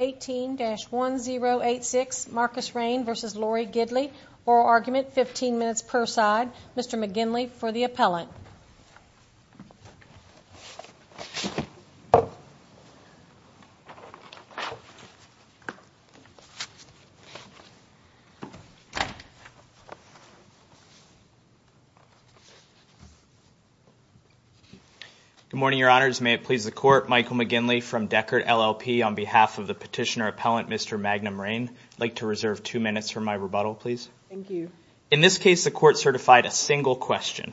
18-1086 Marcus Reign v. Lori Gidley. Oral argument, 15 minutes per side. Mr. McGinley for the appellant. Good morning, Your Honors. May it please the Court, Michael McGinley from Deckard, LLP on behalf of the petitioner appellant, Mr. Magnum Reign. I'd like to reserve two minutes for my rebuttal, please. Thank you. In this case, the Court certified a single question,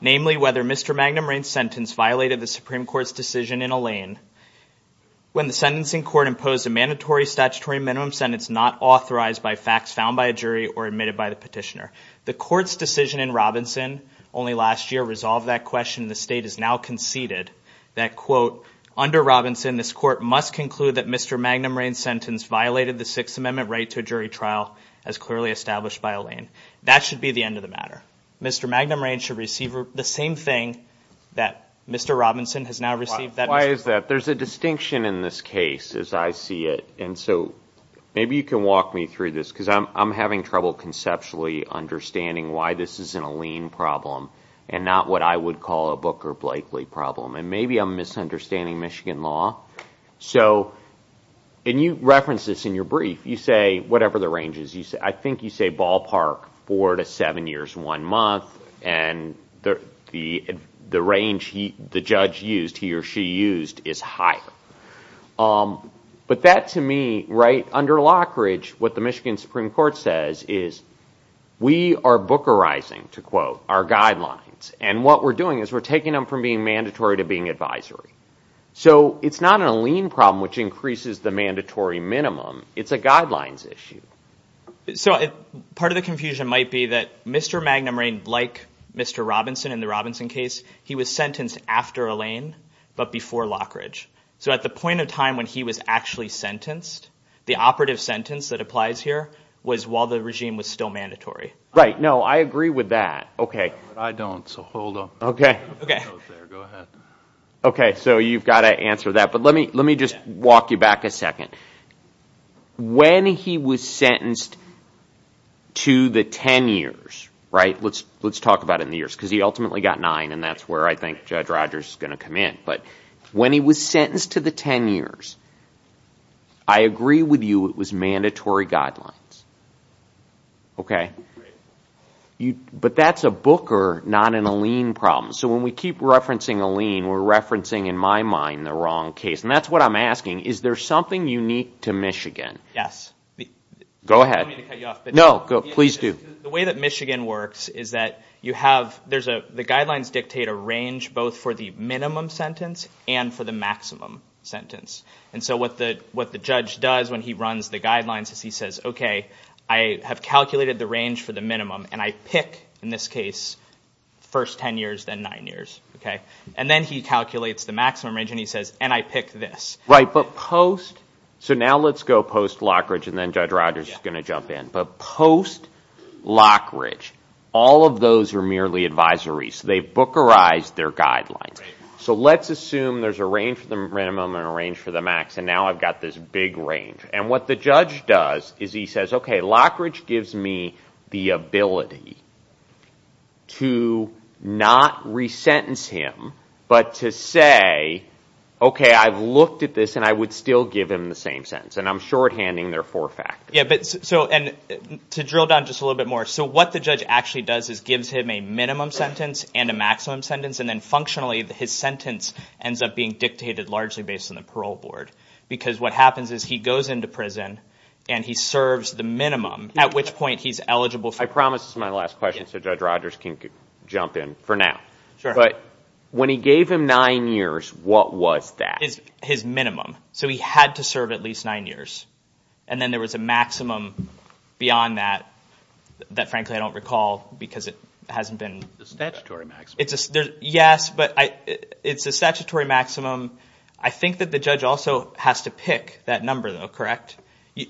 namely whether Mr. Magnum Reign's sentence violated the Supreme Court's decision in Alain when the sentencing court imposed a mandatory statutory minimum sentence not authorized by facts found by a jury or admitted by the petitioner. The Court's decision in Robinson only last year resolved that question and the State has now conceded that, quote, under Robinson, this Court must conclude that Mr. Magnum Reign's sentence violated the Sixth Amendment right to a jury trial as clearly established by Alain. That should be the end of the matter. Mr. Magnum Reign should receive the same thing that Mr. Robinson has now received. Why is that? There's a distinction in this case, as I see it, and so maybe you can walk me through this, because I'm having trouble conceptually understanding why this isn't a Alain problem and not what I would call a Booker-Blakely problem, and maybe I'm misunderstanding Michigan law. So, and you referenced this in your brief, you say, whatever the range is, I think you say ballpark four to seven years, one month, and the range the judge used, he or she used, is higher. But that, to me, right under Lockridge, what the Michigan Bookerizing, to quote, are guidelines, and what we're doing is we're taking them from being mandatory to being advisory. So it's not an Alain problem, which increases the mandatory minimum, it's a guidelines issue. So part of the confusion might be that Mr. Magnum Reign, like Mr. Robinson in the Robinson case, he was sentenced after Alain, but before Lockridge. So at the point of time when he was actually sentenced, the operative sentence that applies here was while the regime was still mandatory. Right, no, I agree with that. Okay. But I don't, so hold on. Okay. Okay. Go ahead. Okay, so you've got to answer that, but let me just walk you back a second. When he was sentenced to the ten years, right, let's talk about it in the years, because he ultimately got nine and that's where I think Judge Rogers is going to come in, but when he was sentenced to the ten years, I agree with you it was mandatory guidelines. Okay. But that's a Booker, not an Alain problem. So when we keep referencing Alain, we're referencing in my mind the wrong case. And that's what I'm asking, is there something unique to Michigan? Yes. Go ahead. I don't mean to cut you off, but No, go, please do. The way that Michigan works is that you have, there's a, the guidelines dictate a range both for the minimum sentence and for the maximum sentence. And so what the, what the judge does when he runs the guidelines is he says, okay, I have calculated the range for the minimum and I pick in this case, first 10 years, then nine years. Okay. And then he calculates the maximum range and he says, and I pick this. Right. But post, so now let's go post Lockridge and then Judge Rogers is going to jump in, but post Lockridge, all of those are merely advisories. So they've Bookerized their guidelines. So let's assume there's a range for the minimum and a range for the max. And now I've got this big range. And what the judge does is he says, okay, Lockridge gives me the ability to not re-sentence him, but to say, okay, I've looked at this and I would still give him the same sentence. And I'm shorthanding their four factors. Yeah. But so, and to drill down just a little bit more. So what the judge actually does is gives him a minimum sentence and a maximum sentence. And then functionally his sentence ends up being dictated largely based on the parole board. Because what happens is he goes into prison and he serves the minimum, at which point he's eligible. I promise this is my last question. So Judge Rogers can jump in for now. But when he gave him nine years, what was that? His minimum. So he had to serve at least nine years. And then there was a maximum beyond that, that frankly I don't recall because it hasn't been... The statutory maximum. Yes, but it's a statutory maximum. I think that the judge also has to pick that number though, correct? I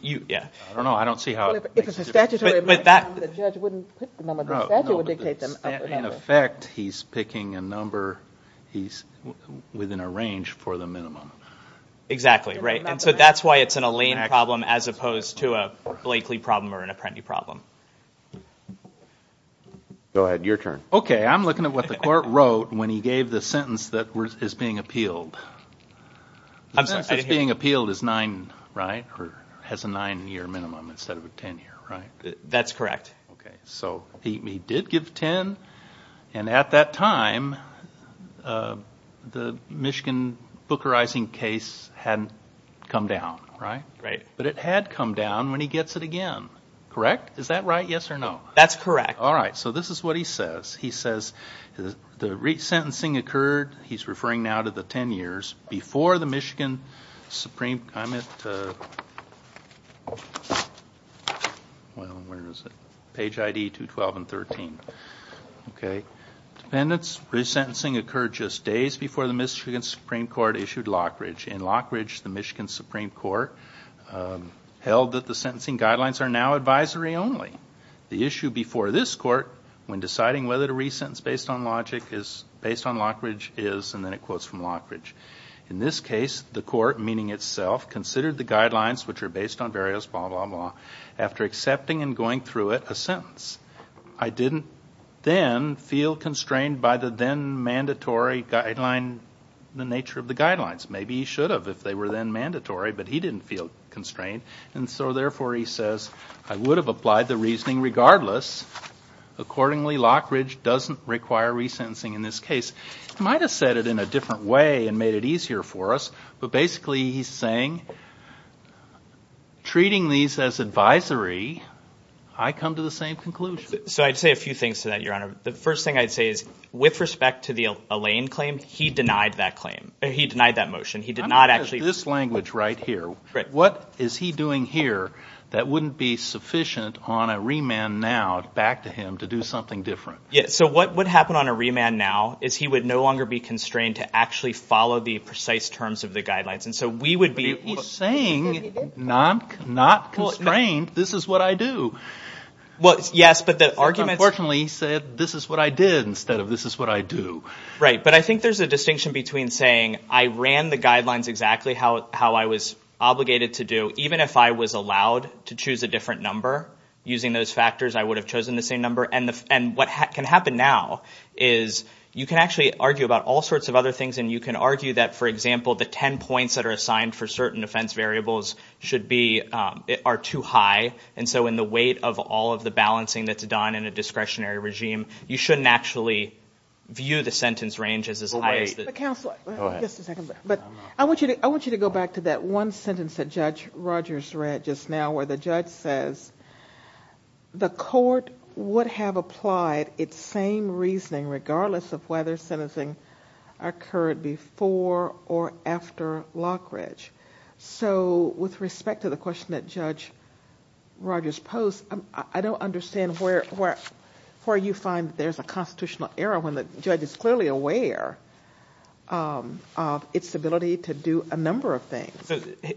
don't know. I don't see how it makes a difference. If it's a statutory maximum, the judge wouldn't pick the number. The statute would dictate them a number. In effect, he's picking a number within a range for the minimum. Exactly, right. And so that's why it's an Elaine problem as opposed to a Blakely problem or an Apprenti problem. Go ahead, your turn. Okay, I'm looking at what the court wrote when he gave the sentence that is being appealed. The sentence that's being appealed is nine, right? Or has a nine year minimum instead of a ten year, right? That's correct. Okay, so he did give ten and at that time, the Michigan Booker Ising case hadn't come down, right? Right. But it had come down when he gets it again, correct? Is that right, yes or no? That's correct. Alright, so this is what he says. He says the resentencing occurred, he's referring now to the ten years before the Michigan Supreme, I'm at, well, where is it? Page ID 212 and 13. Okay, dependents resentencing occurred just days before the Michigan Supreme Court issued Lockridge. In Lockridge, the Michigan Supreme Court held that the sentencing guidelines are now advisory only. The issue before this court when deciding whether to In this case, the court, meaning itself, considered the guidelines, which are based on various blah, blah, blah, after accepting and going through it, a sentence. I didn't then feel constrained by the then mandatory guideline, the nature of the guidelines. Maybe he should have if they were then mandatory, but he didn't feel constrained and so therefore, he says, I would have applied the reasoning regardless, accordingly, Lockridge doesn't require resentencing in this case. He might have said it in a different way and made it easier for us, but basically, he's saying, treating these as advisory, I come to the same conclusion. So, I'd say a few things to that, your honor. The first thing I'd say is, with respect to the Allain claim, he denied that claim. He denied that motion. He did not actually This language right here, what is he doing here that wouldn't be sufficient on a remand now back to him to do something different? So, what would happen on a remand now is he would no longer be constrained to actually follow the precise terms of the guidelines and so we would be He's saying, not constrained, this is what I do. Well, yes, but the argument Unfortunately, he said, this is what I did instead of this is what I do. Right, but I think there's a distinction between saying, I ran the guidelines exactly how I was obligated to do, even if I was allowed to choose a different number, using those What can happen now is, you can actually argue about all sorts of other things and you can argue that, for example, the ten points that are assigned for certain defense variables should be, are too high and so in the weight of all of the balancing that's done in a discretionary regime, you shouldn't actually view the sentence range as as high as Counselor, I want you to go back to that one sentence that Judge Rogers read just now where the judge says, the court would have applied its same reasoning, regardless of whether sentencing occurred before or after Lockridge. So with respect to the question that Judge Rogers posed, I don't understand where you find there's a constitutional error when the judge is clearly aware of its ability to do a number of things.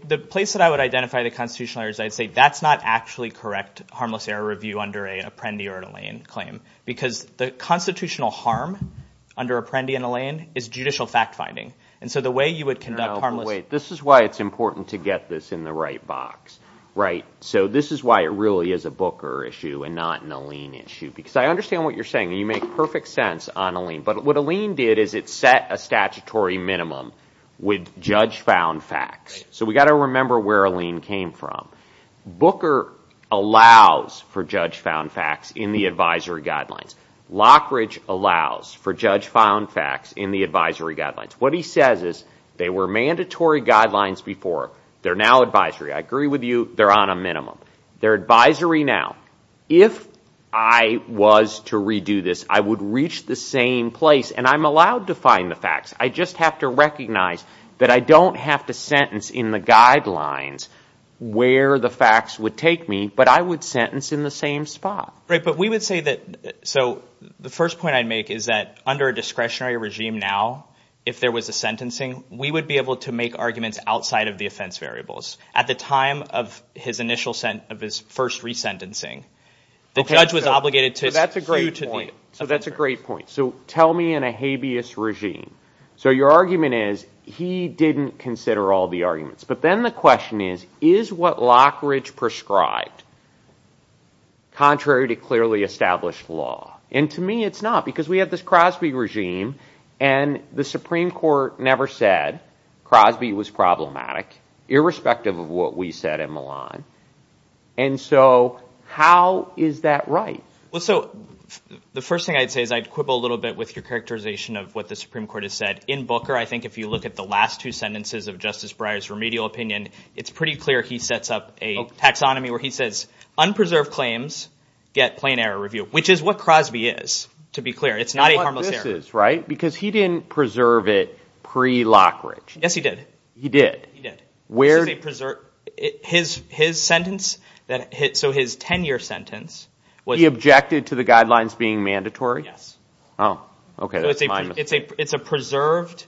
The place that I would identify the constitutional errors, I'd say that's not actually correct harmless error review under an Apprendi or an Allain claim, because the constitutional harm under Apprendi and Allain is judicial fact-finding. And so the way you would conduct harmless Wait, this is why it's important to get this in the right box, right? So this is why it really is a Booker issue and not an Allain issue, because I understand what you're saying. You make perfect sense on Allain, but what Allain did is it set a statutory minimum with judge found facts. So we got to remember where Allain came from. Booker allows for judge found facts in the advisory guidelines. Lockridge allows for judge found facts in the advisory guidelines. What he says is they were mandatory guidelines before. They're now advisory. I agree with you. They're on a minimum. They're advisory now. If I was to redo this, I would reach the same place and I'm allowed to find the facts. I just have to recognize that I don't have to sentence in the guidelines where the facts would take me, but I would sentence in the same spot. Right, but we would say that, so the first point I'd make is that under a discretionary regime now, if there was a sentencing, we would be able to make arguments outside of the offense variables. At the time of his initial, of his first resentencing, the judge was obligated to So that's a great point. So that's a great point. So tell me in a habeas regime. So your argument is he didn't consider all the arguments. But then the question is, is what Lockridge prescribed contrary to clearly established law? And to me, it's not because we have this Crosby regime and the Supreme Court never said Crosby was problematic, irrespective of what we said in Milan. And so how is that right? Well, so the first thing I'd say is I'd quibble a little bit with your characterization of what the Supreme Court has said. In Booker, I think if you look at the last two sentences of Justice Breyer's remedial opinion, it's pretty clear he sets up a taxonomy where he says, unpreserved claims get plain error review, which is what Crosby is, to be clear. It's not a harmless error. You know what this is, right? Because he didn't preserve it pre-Lockridge. Yes, he did. He did? He did. Where? His sentence, so his 10-year sentence was subjected to the guidelines being mandatory? Yes. Oh, OK. It's a preserved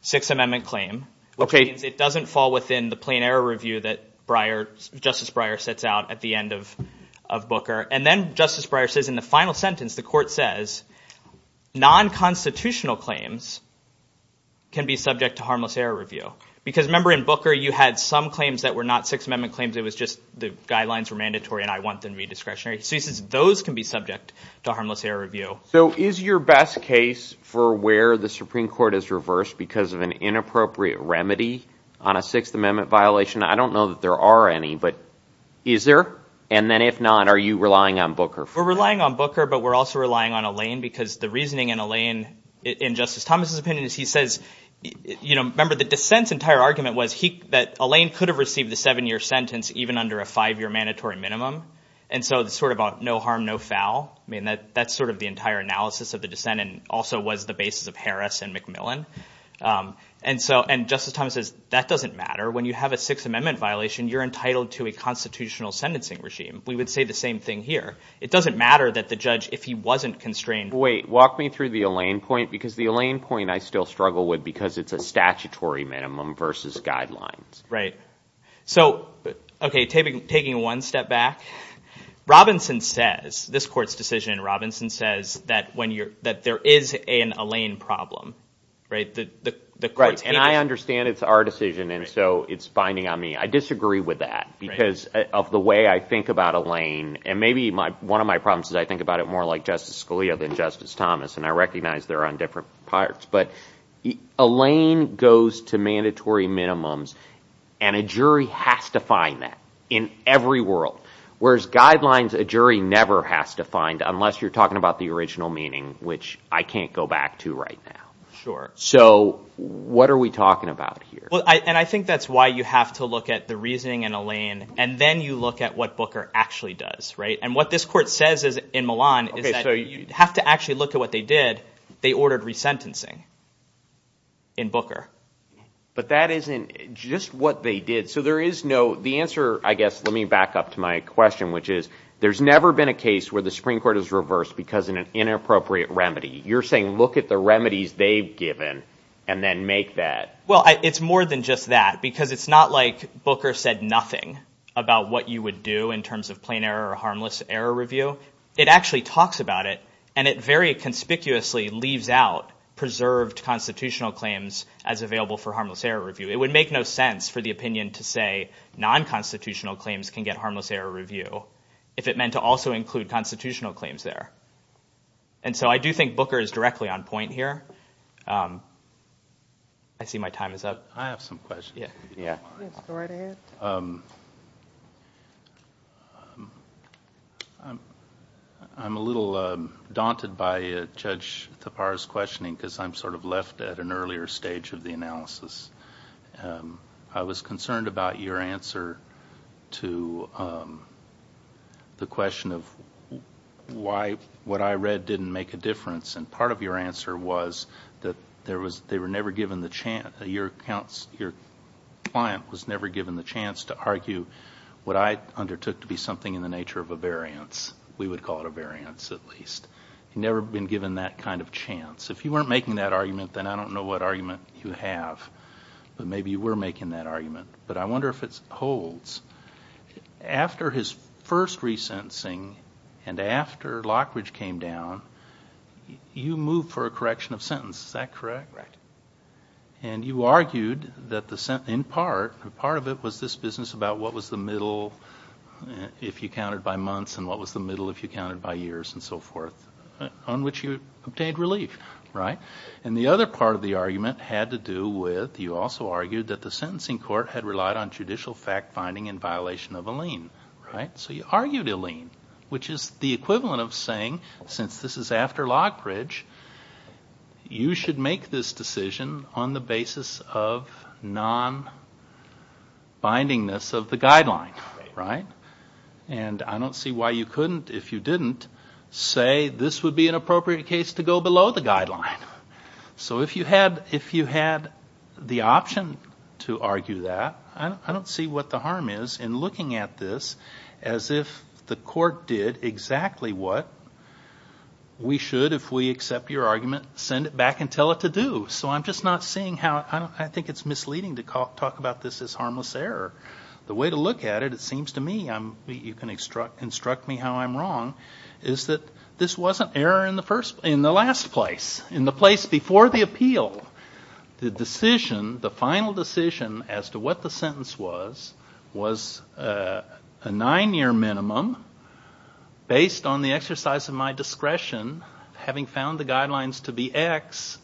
Sixth Amendment claim, which means it doesn't fall within the plain error review that Justice Breyer sets out at the end of Booker. And then Justice Breyer says in the final sentence, the court says, non-constitutional claims can be subject to harmless error review. Because remember in Booker, you had some claims that were not Sixth Amendment claims. It was just the guidelines were mandatory and I want them to be discretionary. So he says those can be subject to harmless error review. So is your best case for where the Supreme Court has reversed because of an inappropriate remedy on a Sixth Amendment violation? I don't know that there are any, but is there? And then if not, are you relying on Booker for that? We're relying on Booker, but we're also relying on Alain, because the reasoning in Alain, in Justice Thomas's opinion, is he says, remember the dissent's entire argument was that Alain could have received the seven-year sentence even under a five-year mandatory minimum. And so it's sort of a no harm, no foul. I mean, that's sort of the entire analysis of the dissent and also was the basis of Harris and McMillan. And Justice Thomas says, that doesn't matter. When you have a Sixth Amendment violation, you're entitled to a constitutional sentencing regime. We would say the same thing here. It doesn't matter that the judge, if he wasn't constrained- Wait, walk me through the Alain point, because the Alain point I still struggle with because it's a statutory minimum versus guidelines. Right. So, okay, taking one step back, Robinson says, this court's decision, Robinson says that there is an Alain problem, right? And I understand it's our decision, and so it's binding on me. I disagree with that, because of the way I think about Alain, and maybe one of my problems is I think about it more like Justice Scalia than Justice Thomas, and I recognize they're on different parts. But Alain goes to mandatory minimums, and a jury has to find that in every world, whereas guidelines a jury never has to find unless you're talking about the original meaning, which I can't go back to right now. So what are we talking about here? And I think that's why you have to look at the reasoning in Alain, and then you look at what Booker actually does, right? And what this court says in Milan is that you have to actually look at what they did. They ordered resentencing in Booker. But that isn't just what they did. So there is no, the answer, I guess, let me back up to my question, which is there's never been a case where the Supreme Court has reversed because of an inappropriate remedy. You're saying look at the remedies they've given, and then make that. Well, it's more than just that, because it's not like Booker said nothing about what you would do in terms of plain error or harmless error review. It actually talks about it, and it very conspicuously leaves out preserved constitutional claims as available for harmless error review. It would make no sense for the opinion to say non-constitutional claims can get harmless error review if it meant to also include constitutional claims there. And so I do think Booker is directly on point here. I see my time is up. I have some questions. Yes. Go right ahead. I'm a little daunted by Judge Thapar's questioning because I'm sort of left at an earlier stage of the analysis. I was concerned about your answer to the question of why what I read didn't make a difference, and part of your answer was that they were never given the chance, your client was never given the chance to argue what I undertook to be something in the nature of a variance. We would call it a variance at least. Never been given that kind of chance. If you weren't making that argument, then I don't know what argument you have, but maybe you were making that argument. But I wonder if it holds. After his first re-sentencing and after Lockridge came down, you moved for a correction of sentence. Is that correct? Right. And you argued that in part, part of it was this business about what was the middle if you counted by months and what was the middle if you counted by years and so forth, on which you obtained relief, right? And the other part of the argument had to do with you also argued that the sentencing court had relied on judicial fact-finding in violation of a lien, right? So you argued a lien, which is the equivalent of saying, since this is after Lockridge, you should make this decision on the basis of non-bindingness of the guideline, right? And I don't see why you couldn't, if you didn't, say this would be an appropriate case to go below the guideline. So if you had the option to argue that, I don't see what the harm is in looking at this as if the court did exactly what we should, if we accept your argument, send it back and tell it to do. So I'm just not seeing how, I think it's misleading to talk about this as harmless error. The way to look at it, it seems to me, you can instruct me how I'm wrong, is that this wasn't error in the last place. In the place before the appeal, the decision, the final decision as to what the sentence was, was a nine-year minimum, based on the exercise of my discretion, having found the guidelines to be X,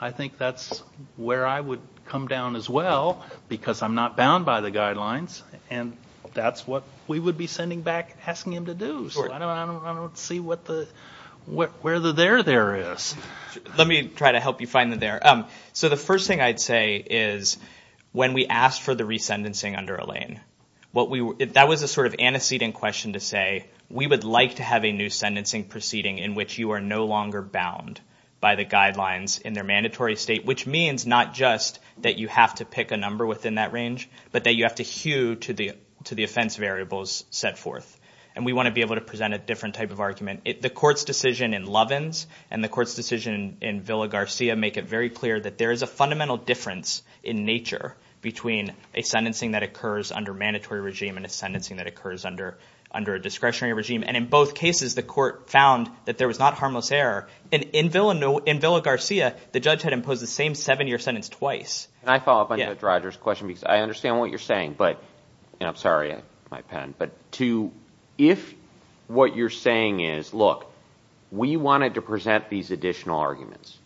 I think that's where I would come down as well, because I'm not bound by the guidelines, and that's what we would be sending back, asking him to do. So I don't see where the there there is. Let me try to help you find the there. So the first thing I'd say is, when we asked for the re-sentencing under Elaine, that was a sort of antecedent question to say, we would like to have a new sentencing proceeding in which you are no longer bound by the guidelines in their mandatory state, which means not just that you have to pick a number within that range, but that you have to hew to the offense variables set forth. And we want to be able to present a different type of argument. The court's decision in Lovins and the court's decision in Villa-Garcia make it very clear that there is a fundamental difference in nature between a sentencing that occurs under mandatory regime and a sentencing that occurs under a discretionary regime. And in both cases, the court found that there was not harmless error, and in Villa-Garcia, the judge had imposed the same seven-year sentence twice. Can I follow up on Judge Rogers' question, because I understand what you're saying, but to, if what you're saying is, look, we wanted to present these additional arguments,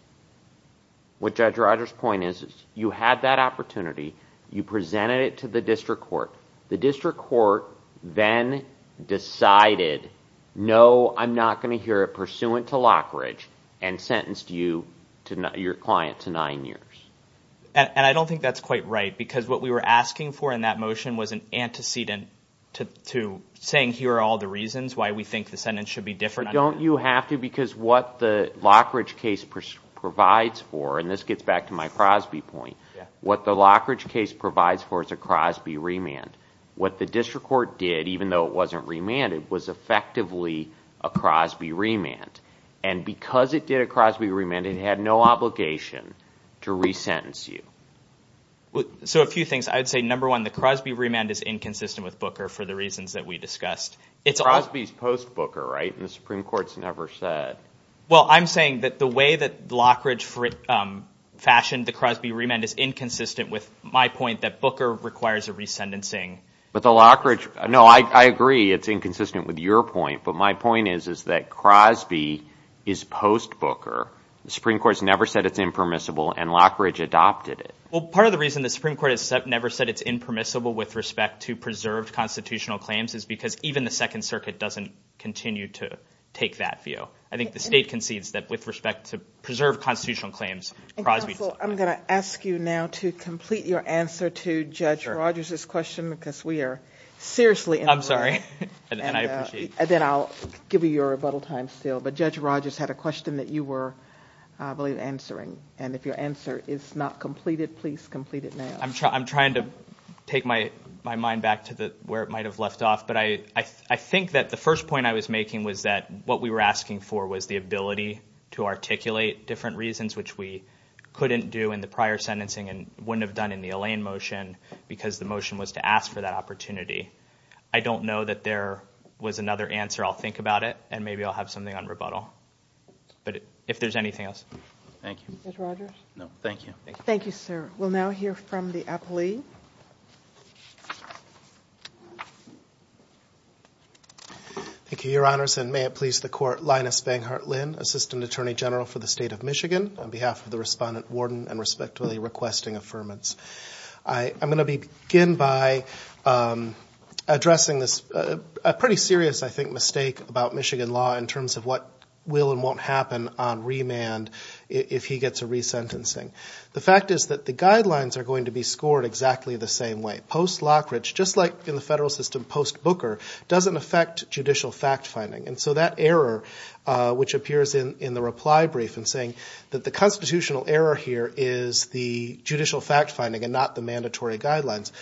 what Judge Rogers' point is, you had that opportunity, you presented it to the district court, the district court then decided, no, I'm not going to hear it pursuant to Lockridge, and sentenced you, your client, to nine years. And I don't think that's quite right, because what we were asking for in that motion was an antecedent to saying, here are all the reasons why we think the sentence should be different. But don't you have to, because what the Lockridge case provides for, and this gets back to my Crosby point, what the Lockridge case provides for is a Crosby remand. What the district court did, even though it wasn't remanded, was effectively a Crosby remand. And because it did a Crosby remand, it had no obligation to resentence you. So a few things. I'd say, number one, the Crosby remand is inconsistent with Booker, for the reasons that we discussed. Crosby's post-Booker, right, and the Supreme Court's never said. Well, I'm saying that the way that Lockridge fashioned the Crosby remand is inconsistent with my point that Booker requires a resentencing. But the Lockridge, no, I agree, it's inconsistent with your point, but my point is that Crosby is post-Booker. The Supreme Court's never said it's impermissible, and Lockridge adopted it. Well, part of the reason the Supreme Court has never said it's impermissible with respect to preserved constitutional claims is because even the Second Circuit doesn't continue to take that view. I think the state concedes that with respect to preserved constitutional claims, Crosby's not. Counsel, I'm going to ask you now to complete your answer to Judge Rogers' question, because we are seriously in a hurry, and then I'll give you your rebuttal time still. But Judge Rogers had a question that you were, I believe, answering, and if your answer is not completed, please complete it now. I'm trying to take my mind back to where it might have left off, but I think that the first point I was making was that what we were asking for was the ability to articulate different reasons, which we couldn't do in the prior sentencing and wouldn't have done in the Allain motion, because the motion was to ask for that opportunity. I don't know that there was another answer. I'll think about it, and maybe I'll have something on rebuttal, but if there's anything else. Thank you. Judge Rogers? No. Thank you. Thank you, sir. We'll now hear from the appellee. Thank you, Your Honors, and may it please the Court, Linus Vanghart-Linn, Assistant Attorney General for the State of Michigan, on behalf of the Respondent, Warden, and Respectfully Requesting Affirmance. I'm going to begin by addressing this pretty serious, I think, mistake about Michigan law in terms of what will and won't happen on remand if he gets a resentencing. The fact is that the guidelines are going to be scored exactly the same way. Post-Lockridge, just like in the federal system post-Booker, doesn't affect judicial fact finding, and so that error, which appears in the reply brief in saying that the constitutional error here is the judicial fact finding and not the mandatory guidelines,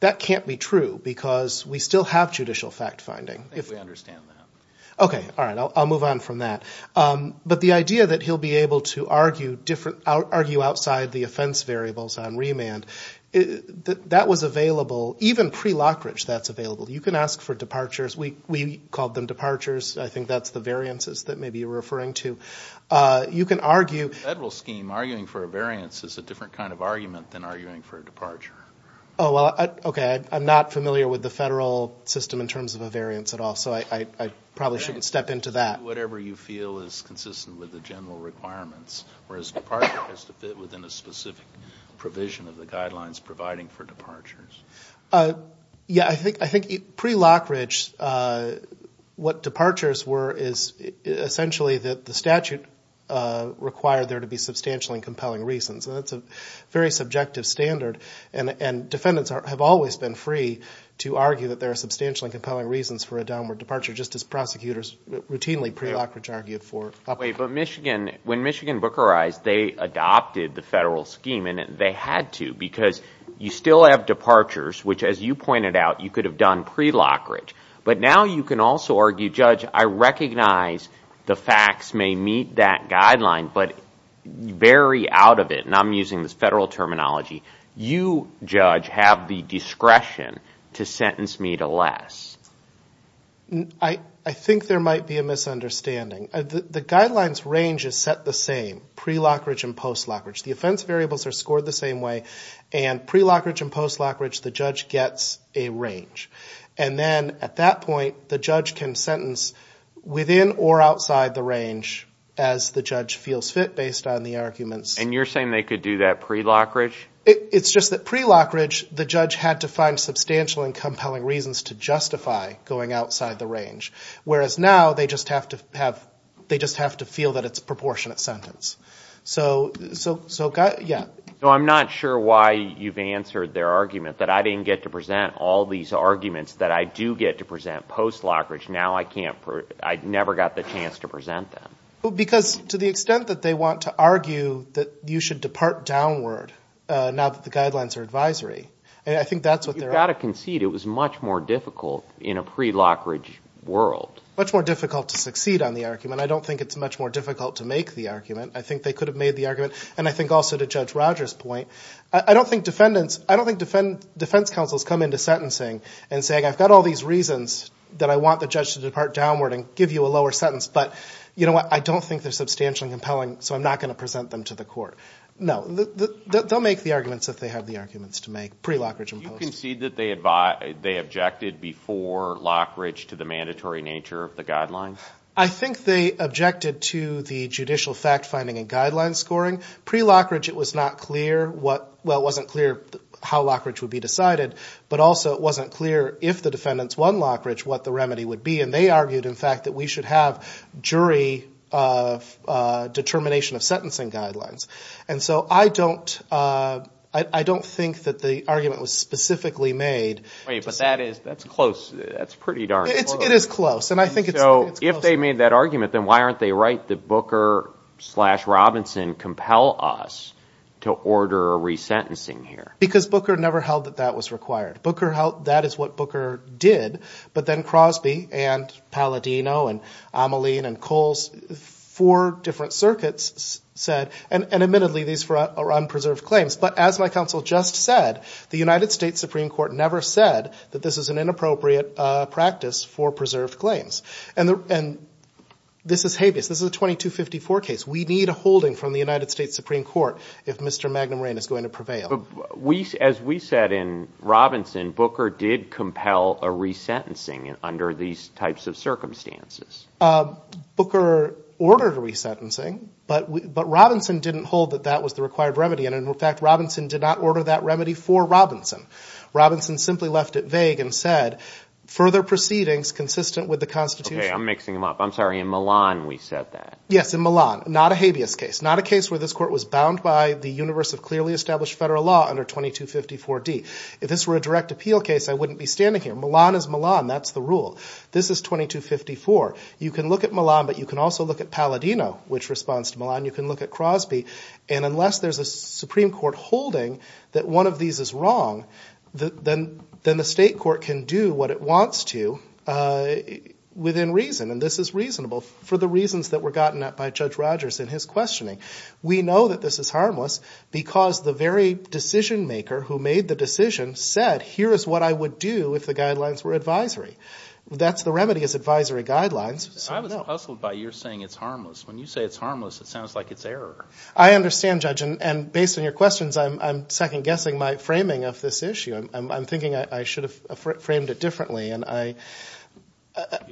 that can't be true because we still have judicial fact finding. I think we understand that. Okay. All right. I'll move on from that. But the idea that he'll be able to argue outside the offense variables on remand, that was available, even pre-Lockridge, that's available. You can ask for departures. We called them departures. I think that's the variances that maybe you're referring to. You can argue- Well, I'm arguing for a variance. It's a different kind of argument than arguing for a departure. Oh, well, okay. I'm not familiar with the federal system in terms of a variance at all, so I probably shouldn't step into that. Whatever you feel is consistent with the general requirements, whereas departure has to fit within a specific provision of the guidelines providing for departures. Yeah, I think pre-Lockridge, what departures were is essentially that the statute required there to be substantial and compelling reasons, and that's a very subjective standard. Defendants have always been free to argue that there are substantial and compelling reasons for a downward departure, just as prosecutors routinely pre-Lockridge argued for upward. Wait. But Michigan, when Michigan bookerized, they adopted the federal scheme, and they had to because you still have departures, which as you pointed out, you could have done pre-Lockridge. But now you can also argue, Judge, I recognize the facts may meet that guideline, but very out of it, and I'm using this federal terminology, you, Judge, have the discretion to sentence me to less. I think there might be a misunderstanding. The guidelines range is set the same, pre-Lockridge and post-Lockridge. The offense variables are scored the same way, and pre-Lockridge and post-Lockridge, the judge gets a range. And then at that point, the judge can sentence within or outside the range as the judge feels fit based on the arguments. And you're saying they could do that pre-Lockridge? It's just that pre-Lockridge, the judge had to find substantial and compelling reasons to justify going outside the range, whereas now they just have to have, they just have to feel that it's a proportionate sentence. So yeah. So I'm not sure why you've answered their argument that I didn't get to present all these arguments, that I do get to present post-Lockridge, now I can't, I never got the chance to present them. Because to the extent that they want to argue that you should depart downward now that the guidelines are advisory, I think that's what they're arguing. You've got to concede it was much more difficult in a pre-Lockridge world. Much more difficult to succeed on the argument. I don't think it's much more difficult to make the argument. I think they could have made the argument, and I think also to Judge Rogers' point, I got all these reasons that I want the judge to depart downward and give you a lower sentence, but you know what, I don't think they're substantially compelling, so I'm not going to present them to the court. No. They'll make the arguments if they have the arguments to make, pre-Lockridge and post-Lockridge. Do you concede that they objected before Lockridge to the mandatory nature of the guidelines? I think they objected to the judicial fact-finding and guideline scoring. Pre-Lockridge it was not clear what, well it wasn't clear how Lockridge would be decided, but also it wasn't clear if the defendants won Lockridge what the remedy would be, and they argued, in fact, that we should have jury determination of sentencing guidelines. And so I don't think that the argument was specifically made. Wait, but that is, that's close. That's pretty darn close. It is close. And I think it's close. So if they made that argument, then why aren't they right that Booker slash Robinson compel us to order a resentencing here? Because Booker never held that that was required. Booker held that is what Booker did. But then Crosby and Palladino and Amoline and Coles, four different circuits said, and admittedly these are unpreserved claims. But as my counsel just said, the United States Supreme Court never said that this is an inappropriate practice for preserved claims. And this is habeas, this is a 2254 case. We need a holding from the United States Supreme Court if Mr. Magnum Rain is going to prevail. As we said in Robinson, Booker did compel a resentencing under these types of circumstances. Booker ordered a resentencing, but Robinson didn't hold that that was the required remedy. And in fact, Robinson did not order that remedy for Robinson. Robinson simply left it vague and said, further proceedings consistent with the constitution. Okay, I'm mixing them up. I'm sorry. In Milan, we said that. Yes, in Milan, not a habeas case, not a case where this court was bound by the universe of clearly established federal law under 2254D. If this were a direct appeal case, I wouldn't be standing here. Milan is Milan. That's the rule. This is 2254. You can look at Milan, but you can also look at Palladino, which responds to Milan. You can look at Crosby, and unless there's a Supreme Court holding that one of these is wrong, then the state court can do what it wants to within reason, and this is reasonable for the reasons that were gotten at by Judge Rogers in his questioning. We know that this is harmless because the very decision-maker who made the decision said, here is what I would do if the guidelines were advisory. That's the remedy is advisory guidelines, so no. I was hustled by your saying it's harmless. When you say it's harmless, it sounds like it's error. I understand, Judge, and based on your questions, I'm second-guessing my framing of this issue. I'm thinking I should have framed it differently, and I...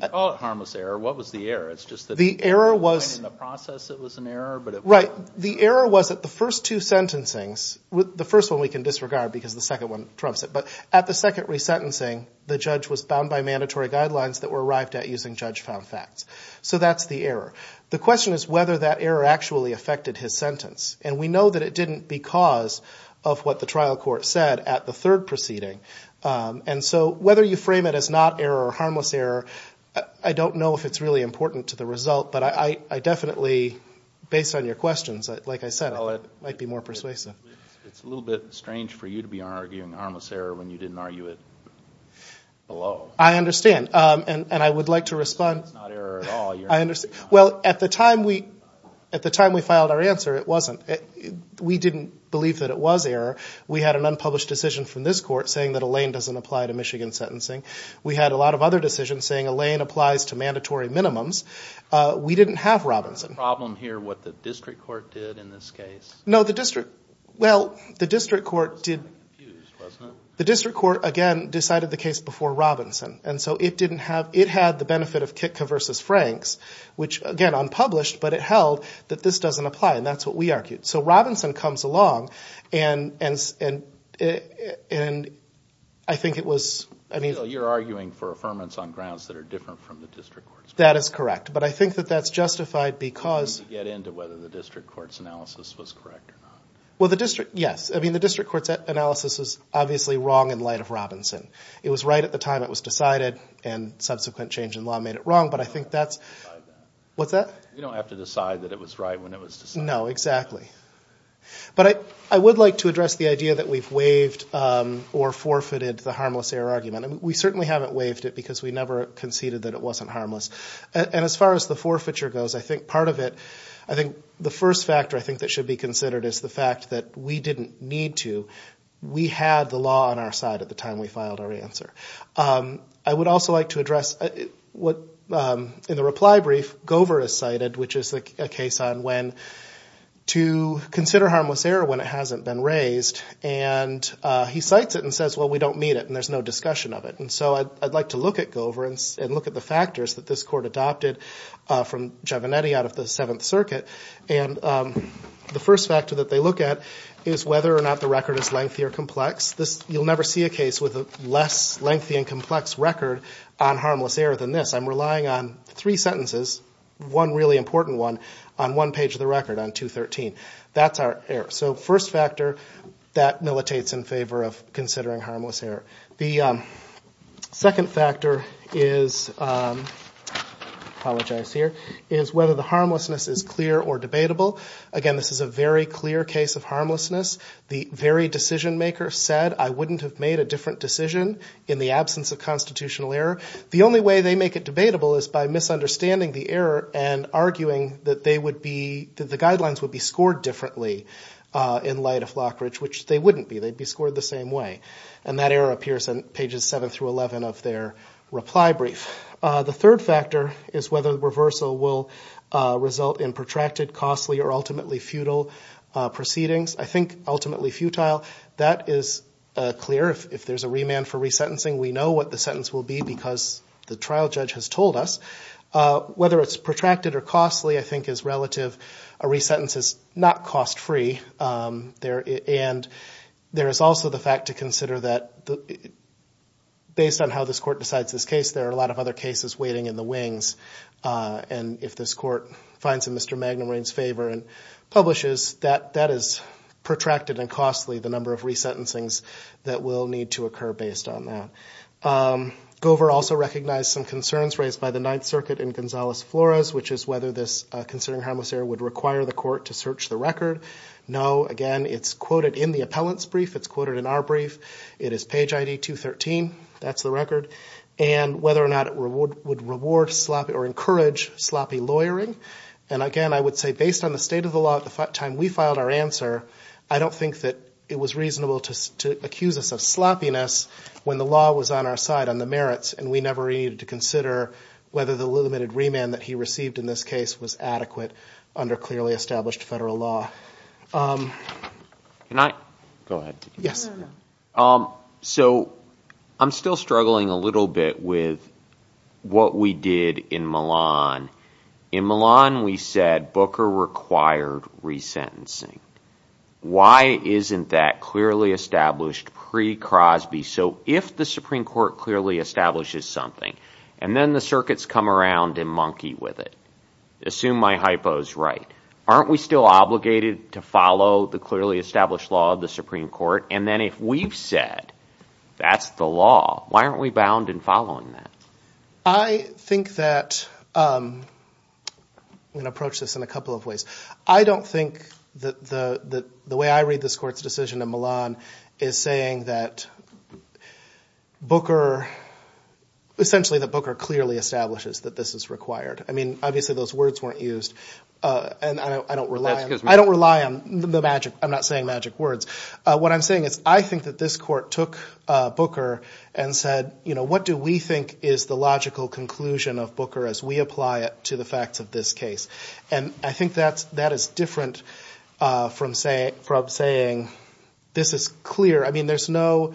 You call it harmless error. What was the error? It's just that... The error was... Right. The error was that the first two sentencings, the first one we can disregard because the second one trumps it, but at the second resentencing, the judge was bound by mandatory guidelines that were arrived at using judge-found facts, so that's the error. The question is whether that error actually affected his sentence, and we know that it didn't because of what the trial court said at the third proceeding, and so whether you frame it as not error or harmless error, I don't know if it's really important to the questions. Like I said, it might be more persuasive. It's a little bit strange for you to be arguing harmless error when you didn't argue it below. I understand, and I would like to respond... It's not error at all. Well, at the time we filed our answer, it wasn't. We didn't believe that it was error. We had an unpublished decision from this court saying that a lane doesn't apply to Michigan sentencing. We had a lot of other decisions saying a lane applies to mandatory minimums. We didn't have Robinson. Is the problem here what the district court did in this case? No, the district... Well, the district court did... The district court, again, decided the case before Robinson, and so it had the benefit of Kitka v. Franks, which again, unpublished, but it held that this doesn't apply, and that's what we argued. So Robinson comes along, and I think it was... You're arguing for affirmance on grounds that are different from the district court's. That is correct, but I think that that's justified because... To get into whether the district court's analysis was correct or not. Well, the district... Yes. I mean, the district court's analysis was obviously wrong in light of Robinson. It was right at the time it was decided, and subsequent change in law made it wrong, but I think that's... You don't have to decide that. What's that? You don't have to decide that it was right when it was decided. No, exactly. But I would like to address the idea that we've waived or forfeited the harmless error argument. We certainly haven't waived it because we never conceded that it wasn't harmless, and as far as the forfeiture goes, I think part of it, I think the first factor I think that should be considered is the fact that we didn't need to. We had the law on our side at the time we filed our answer. I would also like to address what, in the reply brief, Gover has cited, which is a case on when to consider harmless error when it hasn't been raised, and he cites it and says, well, we don't need it, and there's no discussion of it. And so I'd like to look at Gover and look at the factors that this court adopted from Giovannetti out of the Seventh Circuit, and the first factor that they look at is whether or not the record is lengthy or complex. You'll never see a case with a less lengthy and complex record on harmless error than this. I'm relying on three sentences, one really important one, on one page of the record on 213. That's our error. So first factor, that militates in favor of considering harmless error. The second factor is, I apologize here, is whether the harmlessness is clear or debatable. Again, this is a very clear case of harmlessness. The very decision-maker said, I wouldn't have made a different decision in the absence of constitutional error. The only way they make it debatable is by misunderstanding the error and arguing that the guidelines would be scored differently in light of Lockridge, which they wouldn't be. They'd be scored the same way. And that error appears on pages 7 through 11 of their reply brief. The third factor is whether the reversal will result in protracted, costly, or ultimately futile proceedings. I think ultimately futile, that is clear. If there's a remand for resentencing, we know what the sentence will be because the trial judge has told us. Whether it's protracted or costly, I think is relative. A resentence is not cost-free. And there is also the fact to consider that based on how this court decides this case, there are a lot of other cases waiting in the wings. And if this court finds in Mr. Magnum Rayne's favor and publishes, that is protracted and costly, the number of resentencings that will need to occur based on that. Gover also recognized some concerns raised by the Ninth Circuit and Gonzales-Flores, which is whether this concerning harmless error would require the court to search the record. No. Again, it's quoted in the appellant's brief. It's quoted in our brief. It is page ID 213. That's the record. And whether or not it would reward or encourage sloppy lawyering. And again, I would say based on the state of the law at the time we filed our answer, I don't think that it was reasonable to accuse us of sloppiness when the law was on our side on the merits and we never needed to consider whether the limited remand that he received in this case was adequate under clearly established federal law. So I'm still struggling a little bit with what we did in Milan. In Milan, we said Booker required resentencing. Why isn't that clearly established pre-Crosby? So if the Supreme Court clearly establishes something and then the circuits come around and monkey with it, assume my hypo is right, aren't we still obligated to follow the clearly established law of the Supreme Court? And then if we've said that's the law, why aren't we bound in following that? I think that, I'm going to approach this in a couple of ways. I don't think that the way I read this court's decision in Milan is saying that Booker, essentially that Booker clearly establishes that this is required. I mean, obviously those words weren't used and I don't rely on the magic. I'm not saying magic words. What I'm saying is I think that this court took Booker and said, you know, what do we think is the logical conclusion of Booker as we apply it to the facts of this case? And I think that is different from saying this is clear. I mean, there's no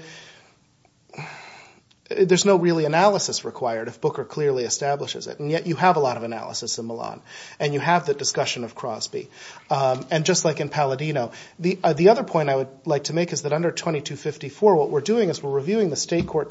really analysis required if Booker clearly establishes it, and yet you have a lot of analysis in Milan and you have the discussion of Crosby. And just like in Palladino, the other point I would like to make is that under 2254, what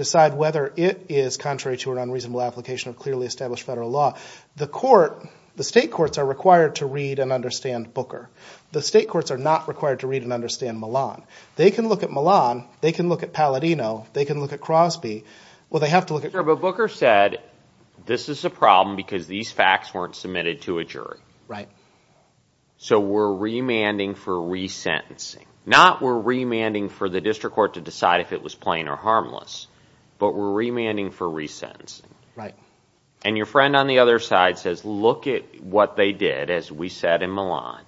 decide whether it is contrary to an unreasonable application of clearly established federal law. The court, the state courts are required to read and understand Booker. The state courts are not required to read and understand Milan. They can look at Milan. They can look at Palladino. They can look at Crosby. Well, they have to look at- Sure, but Booker said this is a problem because these facts weren't submitted to a jury. So we're remanding for resentencing, not we're remanding for the district court to decide if it was plain or harmless, but we're remanding for resentencing. And your friend on the other side says, look at what they did, as we said in Milan.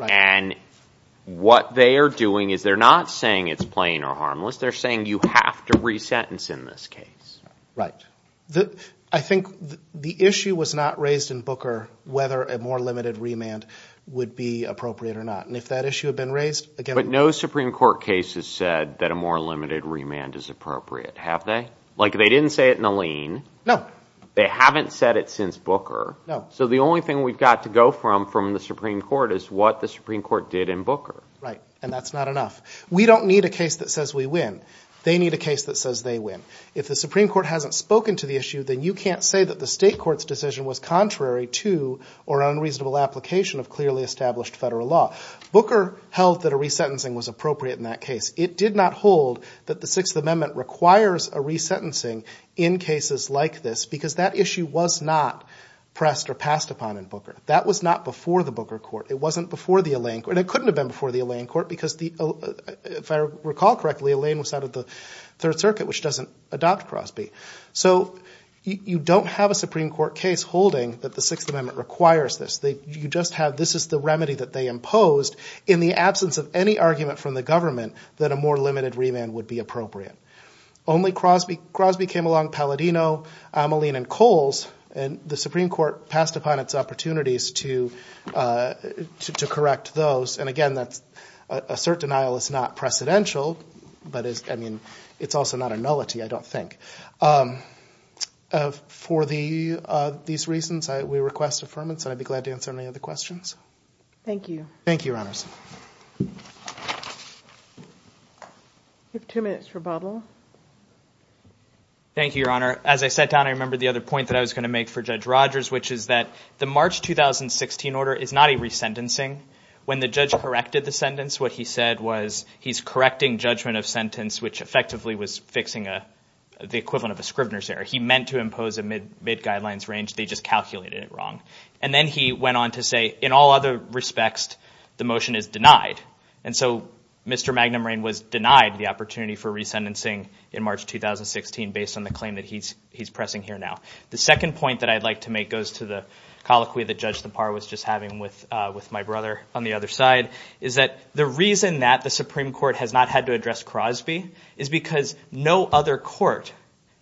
And what they are doing is they're not saying it's plain or harmless. They're saying you have to resentence in this case. I think the issue was not raised in Booker whether a more limited remand would be appropriate or not. And if that issue had been raised, again- But no Supreme Court case has said that a more limited remand is appropriate, have they? Like they didn't say it in the lien. They haven't said it since Booker. So the only thing we've got to go from from the Supreme Court is what the Supreme Court did in Booker. Right. And that's not enough. We don't need a case that says we win. They need a case that says they win. If the Supreme Court hasn't spoken to the issue, then you can't say that the state court's decision was contrary to or unreasonable application of clearly established federal law. Booker held that a resentencing was appropriate in that case. It did not hold that the Sixth Amendment requires a resentencing in cases like this because that issue was not pressed or passed upon in Booker. That was not before the Booker court. It wasn't before the Alain court. And it couldn't have been before the Alain court because if I recall correctly, Alain was out of the Third Circuit, which doesn't adopt Crosby. So you don't have a Supreme Court case holding that the Sixth Amendment requires this. You just have this is the remedy that they imposed in the absence of any argument from the government that a more limited remand would be appropriate. Only Crosby. Crosby came along. Palladino, Alain, and Coles. And the Supreme Court passed upon its opportunities to to correct those. And again, that's a certain denial is not precedential. But I mean, it's also not a nullity, I don't think. But for these reasons, we request affirmance and I'd be glad to answer any other questions. Thank you. Thank you, Your Honors. We have two minutes for bubble. Thank you, Your Honor. As I sat down, I remember the other point that I was going to make for Judge Rogers, which is that the March 2016 order is not a resentencing. When the judge corrected the sentence, what he said was he's correcting judgment of sentence, which effectively was fixing the equivalent of a Scrivener's error. He meant to impose a mid-guidelines range. They just calculated it wrong. And then he went on to say, in all other respects, the motion is denied. And so Mr. Magnum Rain was denied the opportunity for resentencing in March 2016 based on the claim that he's he's pressing here now. The second point that I'd like to make goes to the colloquy that Judge Thapar was just having with with my brother on the other side, is that the reason that the Supreme Court has not had to address Crosby is because no other court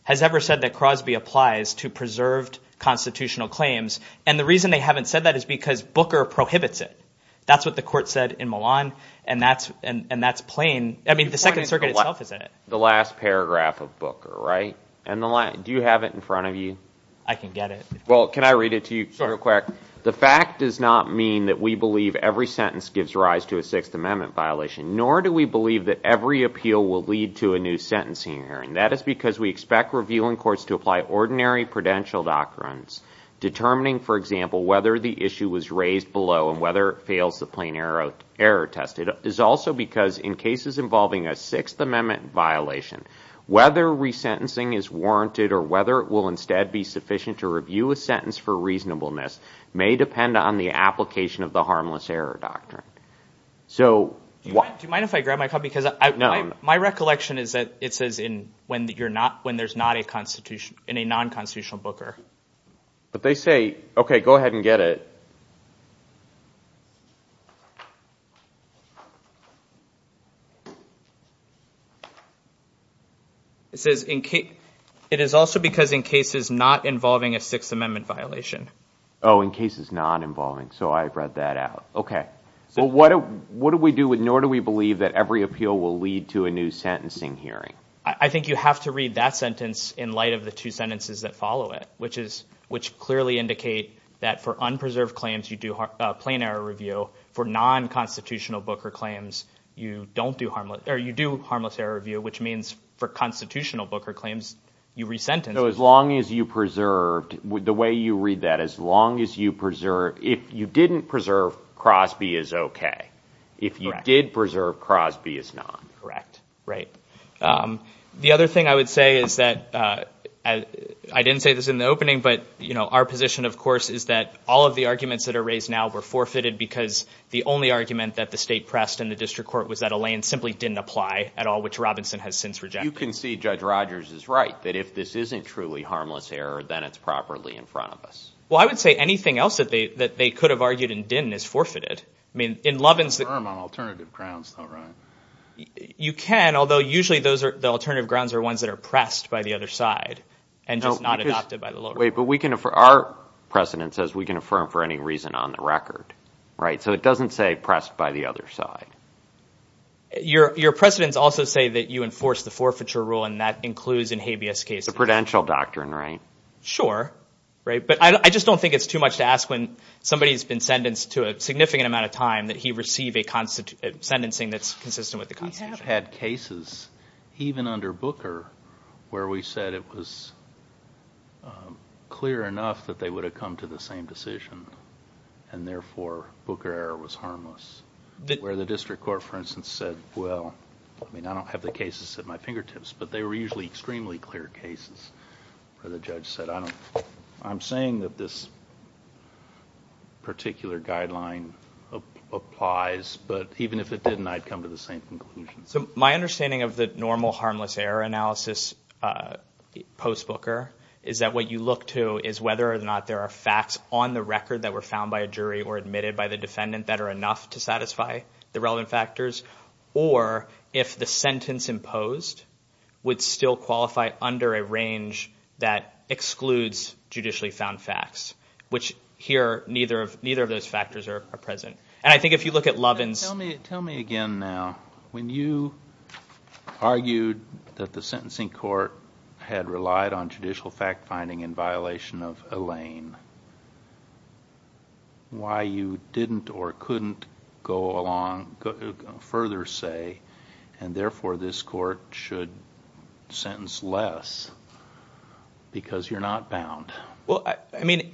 has ever said that Crosby applies to preserved constitutional claims. And the reason they haven't said that is because Booker prohibits it. That's what the court said in Milan. And that's and that's plain. I mean, the Second Circuit itself is in it. The last paragraph of Booker, right? And the line. Do you have it in front of you? I can get it. Well, can I read it to you real quick? The fact does not mean that we believe every sentence gives rise to a Sixth Amendment violation, nor do we believe that every appeal will lead to a new sentencing hearing. That is because we expect reviewing courts to apply ordinary prudential doctrines, determining, for example, whether the issue was raised below and whether it fails the plain error error test. It is also because in cases involving a Sixth Amendment violation, whether resentencing is warranted or whether it will instead be sufficient to review a sentence for reasonableness may depend on the application of the harmless error doctrine. So why do you mind if I grab my cup? Because my recollection is that it says in when you're not when there's not a constitution in a non-constitutional Booker. But they say, OK, go ahead and get it. It says in it is also because in cases not involving a Sixth Amendment violation. Oh, in cases not involving. So I read that out. OK, so what do we do with nor do we believe that every appeal will lead to a new sentencing hearing? I think you have to read that sentence in light of the two sentences that follow it, which is which clearly indicate that for unpreserved claims, you do a plain error review for non-constitutional Booker claims. You don't do harmless or you do harmless error review, which means for constitutional Booker claims you resentence as long as you preserved the way you read that, as long as you preserve. If you didn't preserve, Crosby is OK. If you did preserve, Crosby is not correct. The other thing I would say is that I didn't say this in the opening, but our position, of course, is that all of the arguments that are raised now were forfeited because the only argument that the state pressed in the district court was that Elaine simply didn't apply at all, which Robinson has since rejected. You can see Judge Rogers is right that if this isn't truly harmless error, then it's properly in front of us. Well, I would say anything else that they could have argued and didn't is forfeited. I mean, in Lovins... You can't affirm on alternative grounds, though, right? You can, although usually the alternative grounds are ones that are pressed by the other side and just not adopted by the lower court. Wait, but our precedent says we can affirm for any reason on the record, right? So it doesn't say pressed by the other side. Your precedents also say that you enforce the forfeiture rule and that includes in habeas cases. It's a prudential doctrine, right? Sure. But I just don't think it's too much to ask when somebody's been sentenced to a significant amount of time that he receive a sentencing that's consistent with the Constitution. We have had cases, even under Booker, where we said it was clear enough that they would have come to the same decision and therefore Booker error was harmless. Where the district court, for instance, said, well, I mean, I don't have the cases at my I'm saying that this particular guideline applies, but even if it didn't, I'd come to the same conclusion. So my understanding of the normal harmless error analysis post Booker is that what you look to is whether or not there are facts on the record that were found by a jury or admitted by the defendant that are enough to satisfy the relevant factors. Or if the sentence imposed would still qualify under a range that excludes judicially found facts, which here neither of those factors are present. And I think if you look at Lovins. Tell me again now, when you argued that the sentencing court had relied on judicial fact further say, and therefore this court should sentence less because you're not bound. Well, I mean,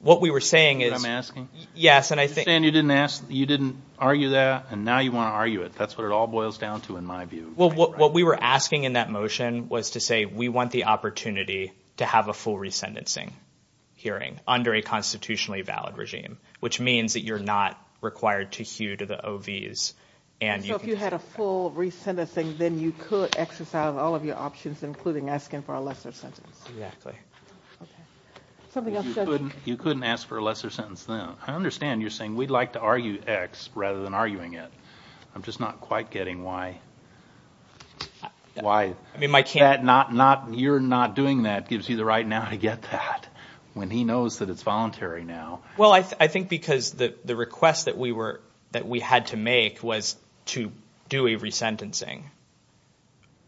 what we were saying is I'm asking, yes, and I think you didn't ask, you didn't argue that. And now you want to argue it. That's what it all boils down to, in my view. Well, what we were asking in that motion was to say we want the opportunity to have a full resentencing hearing under a constitutionally valid regime, which means that you're not required to hew to the OVs. And so if you had a full resentencing, then you could exercise all of your options, including asking for a lesser sentence. Exactly. Okay. Something else. You couldn't ask for a lesser sentence. Now, I understand you're saying we'd like to argue X rather than arguing it. I'm just not quite getting why, why that not, not, you're not doing that gives you the right now to get that when he knows that it's voluntary now. Well, I think because the request that we were, that we had to make was to do a resentencing.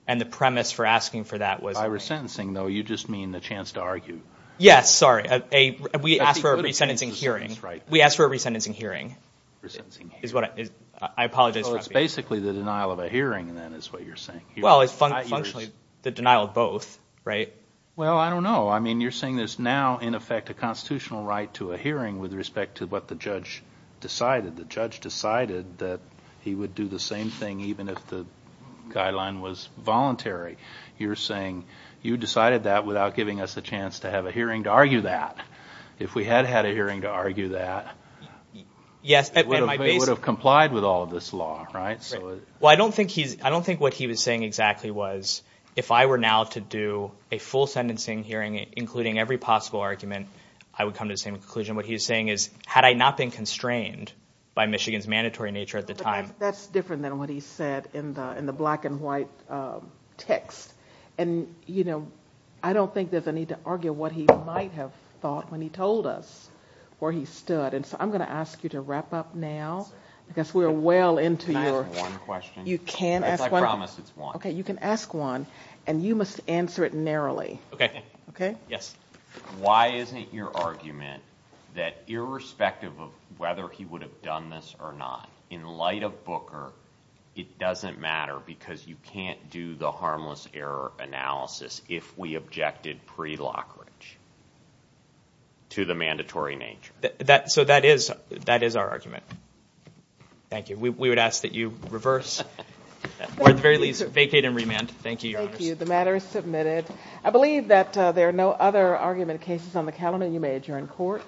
And the premise for asking for that was. By resentencing, though, you just mean the chance to argue. Yes. Sorry. We asked for a resentencing hearing. Right. We asked for a resentencing hearing. Resentencing hearing. Is what it is. I apologize for that. So it's basically the denial of a hearing, then, is what you're saying. Well, it's functionally the denial of both, right? Well I don't know. I mean, you're saying there's now, in effect, a constitutional right to a hearing with respect to what the judge decided. The judge decided that he would do the same thing even if the guideline was voluntary. You're saying you decided that without giving us a chance to have a hearing to argue that. If we had had a hearing to argue that, it would have complied with all of this law, right? Well, I don't think he's, I don't think what he was saying exactly was, if I were now to do a full sentencing hearing, including every possible argument, I would come to the same conclusion. What he was saying is, had I not been constrained by Michigan's mandatory nature at the time. That's different than what he said in the black and white text. And you know, I don't think there's a need to argue what he might have thought when he told us where he stood. And so I'm going to ask you to wrap up now, because we're well into your... Can I ask one question? You can ask one. I promise it's one. Okay. You can ask one, and you must answer it narrowly. Okay. Okay. Yes. Why isn't your argument that irrespective of whether he would have done this or not, in light of Booker, it doesn't matter because you can't do the harmless error analysis if we objected pre-Lockridge to the mandatory nature? So that is our argument. Thank you. We would ask that you reverse, or at the very least, vacate and remand. Thank you, Your Honor. Thank you. The matter is submitted. I believe that there are no other argument cases on the calendar. You may adjourn court.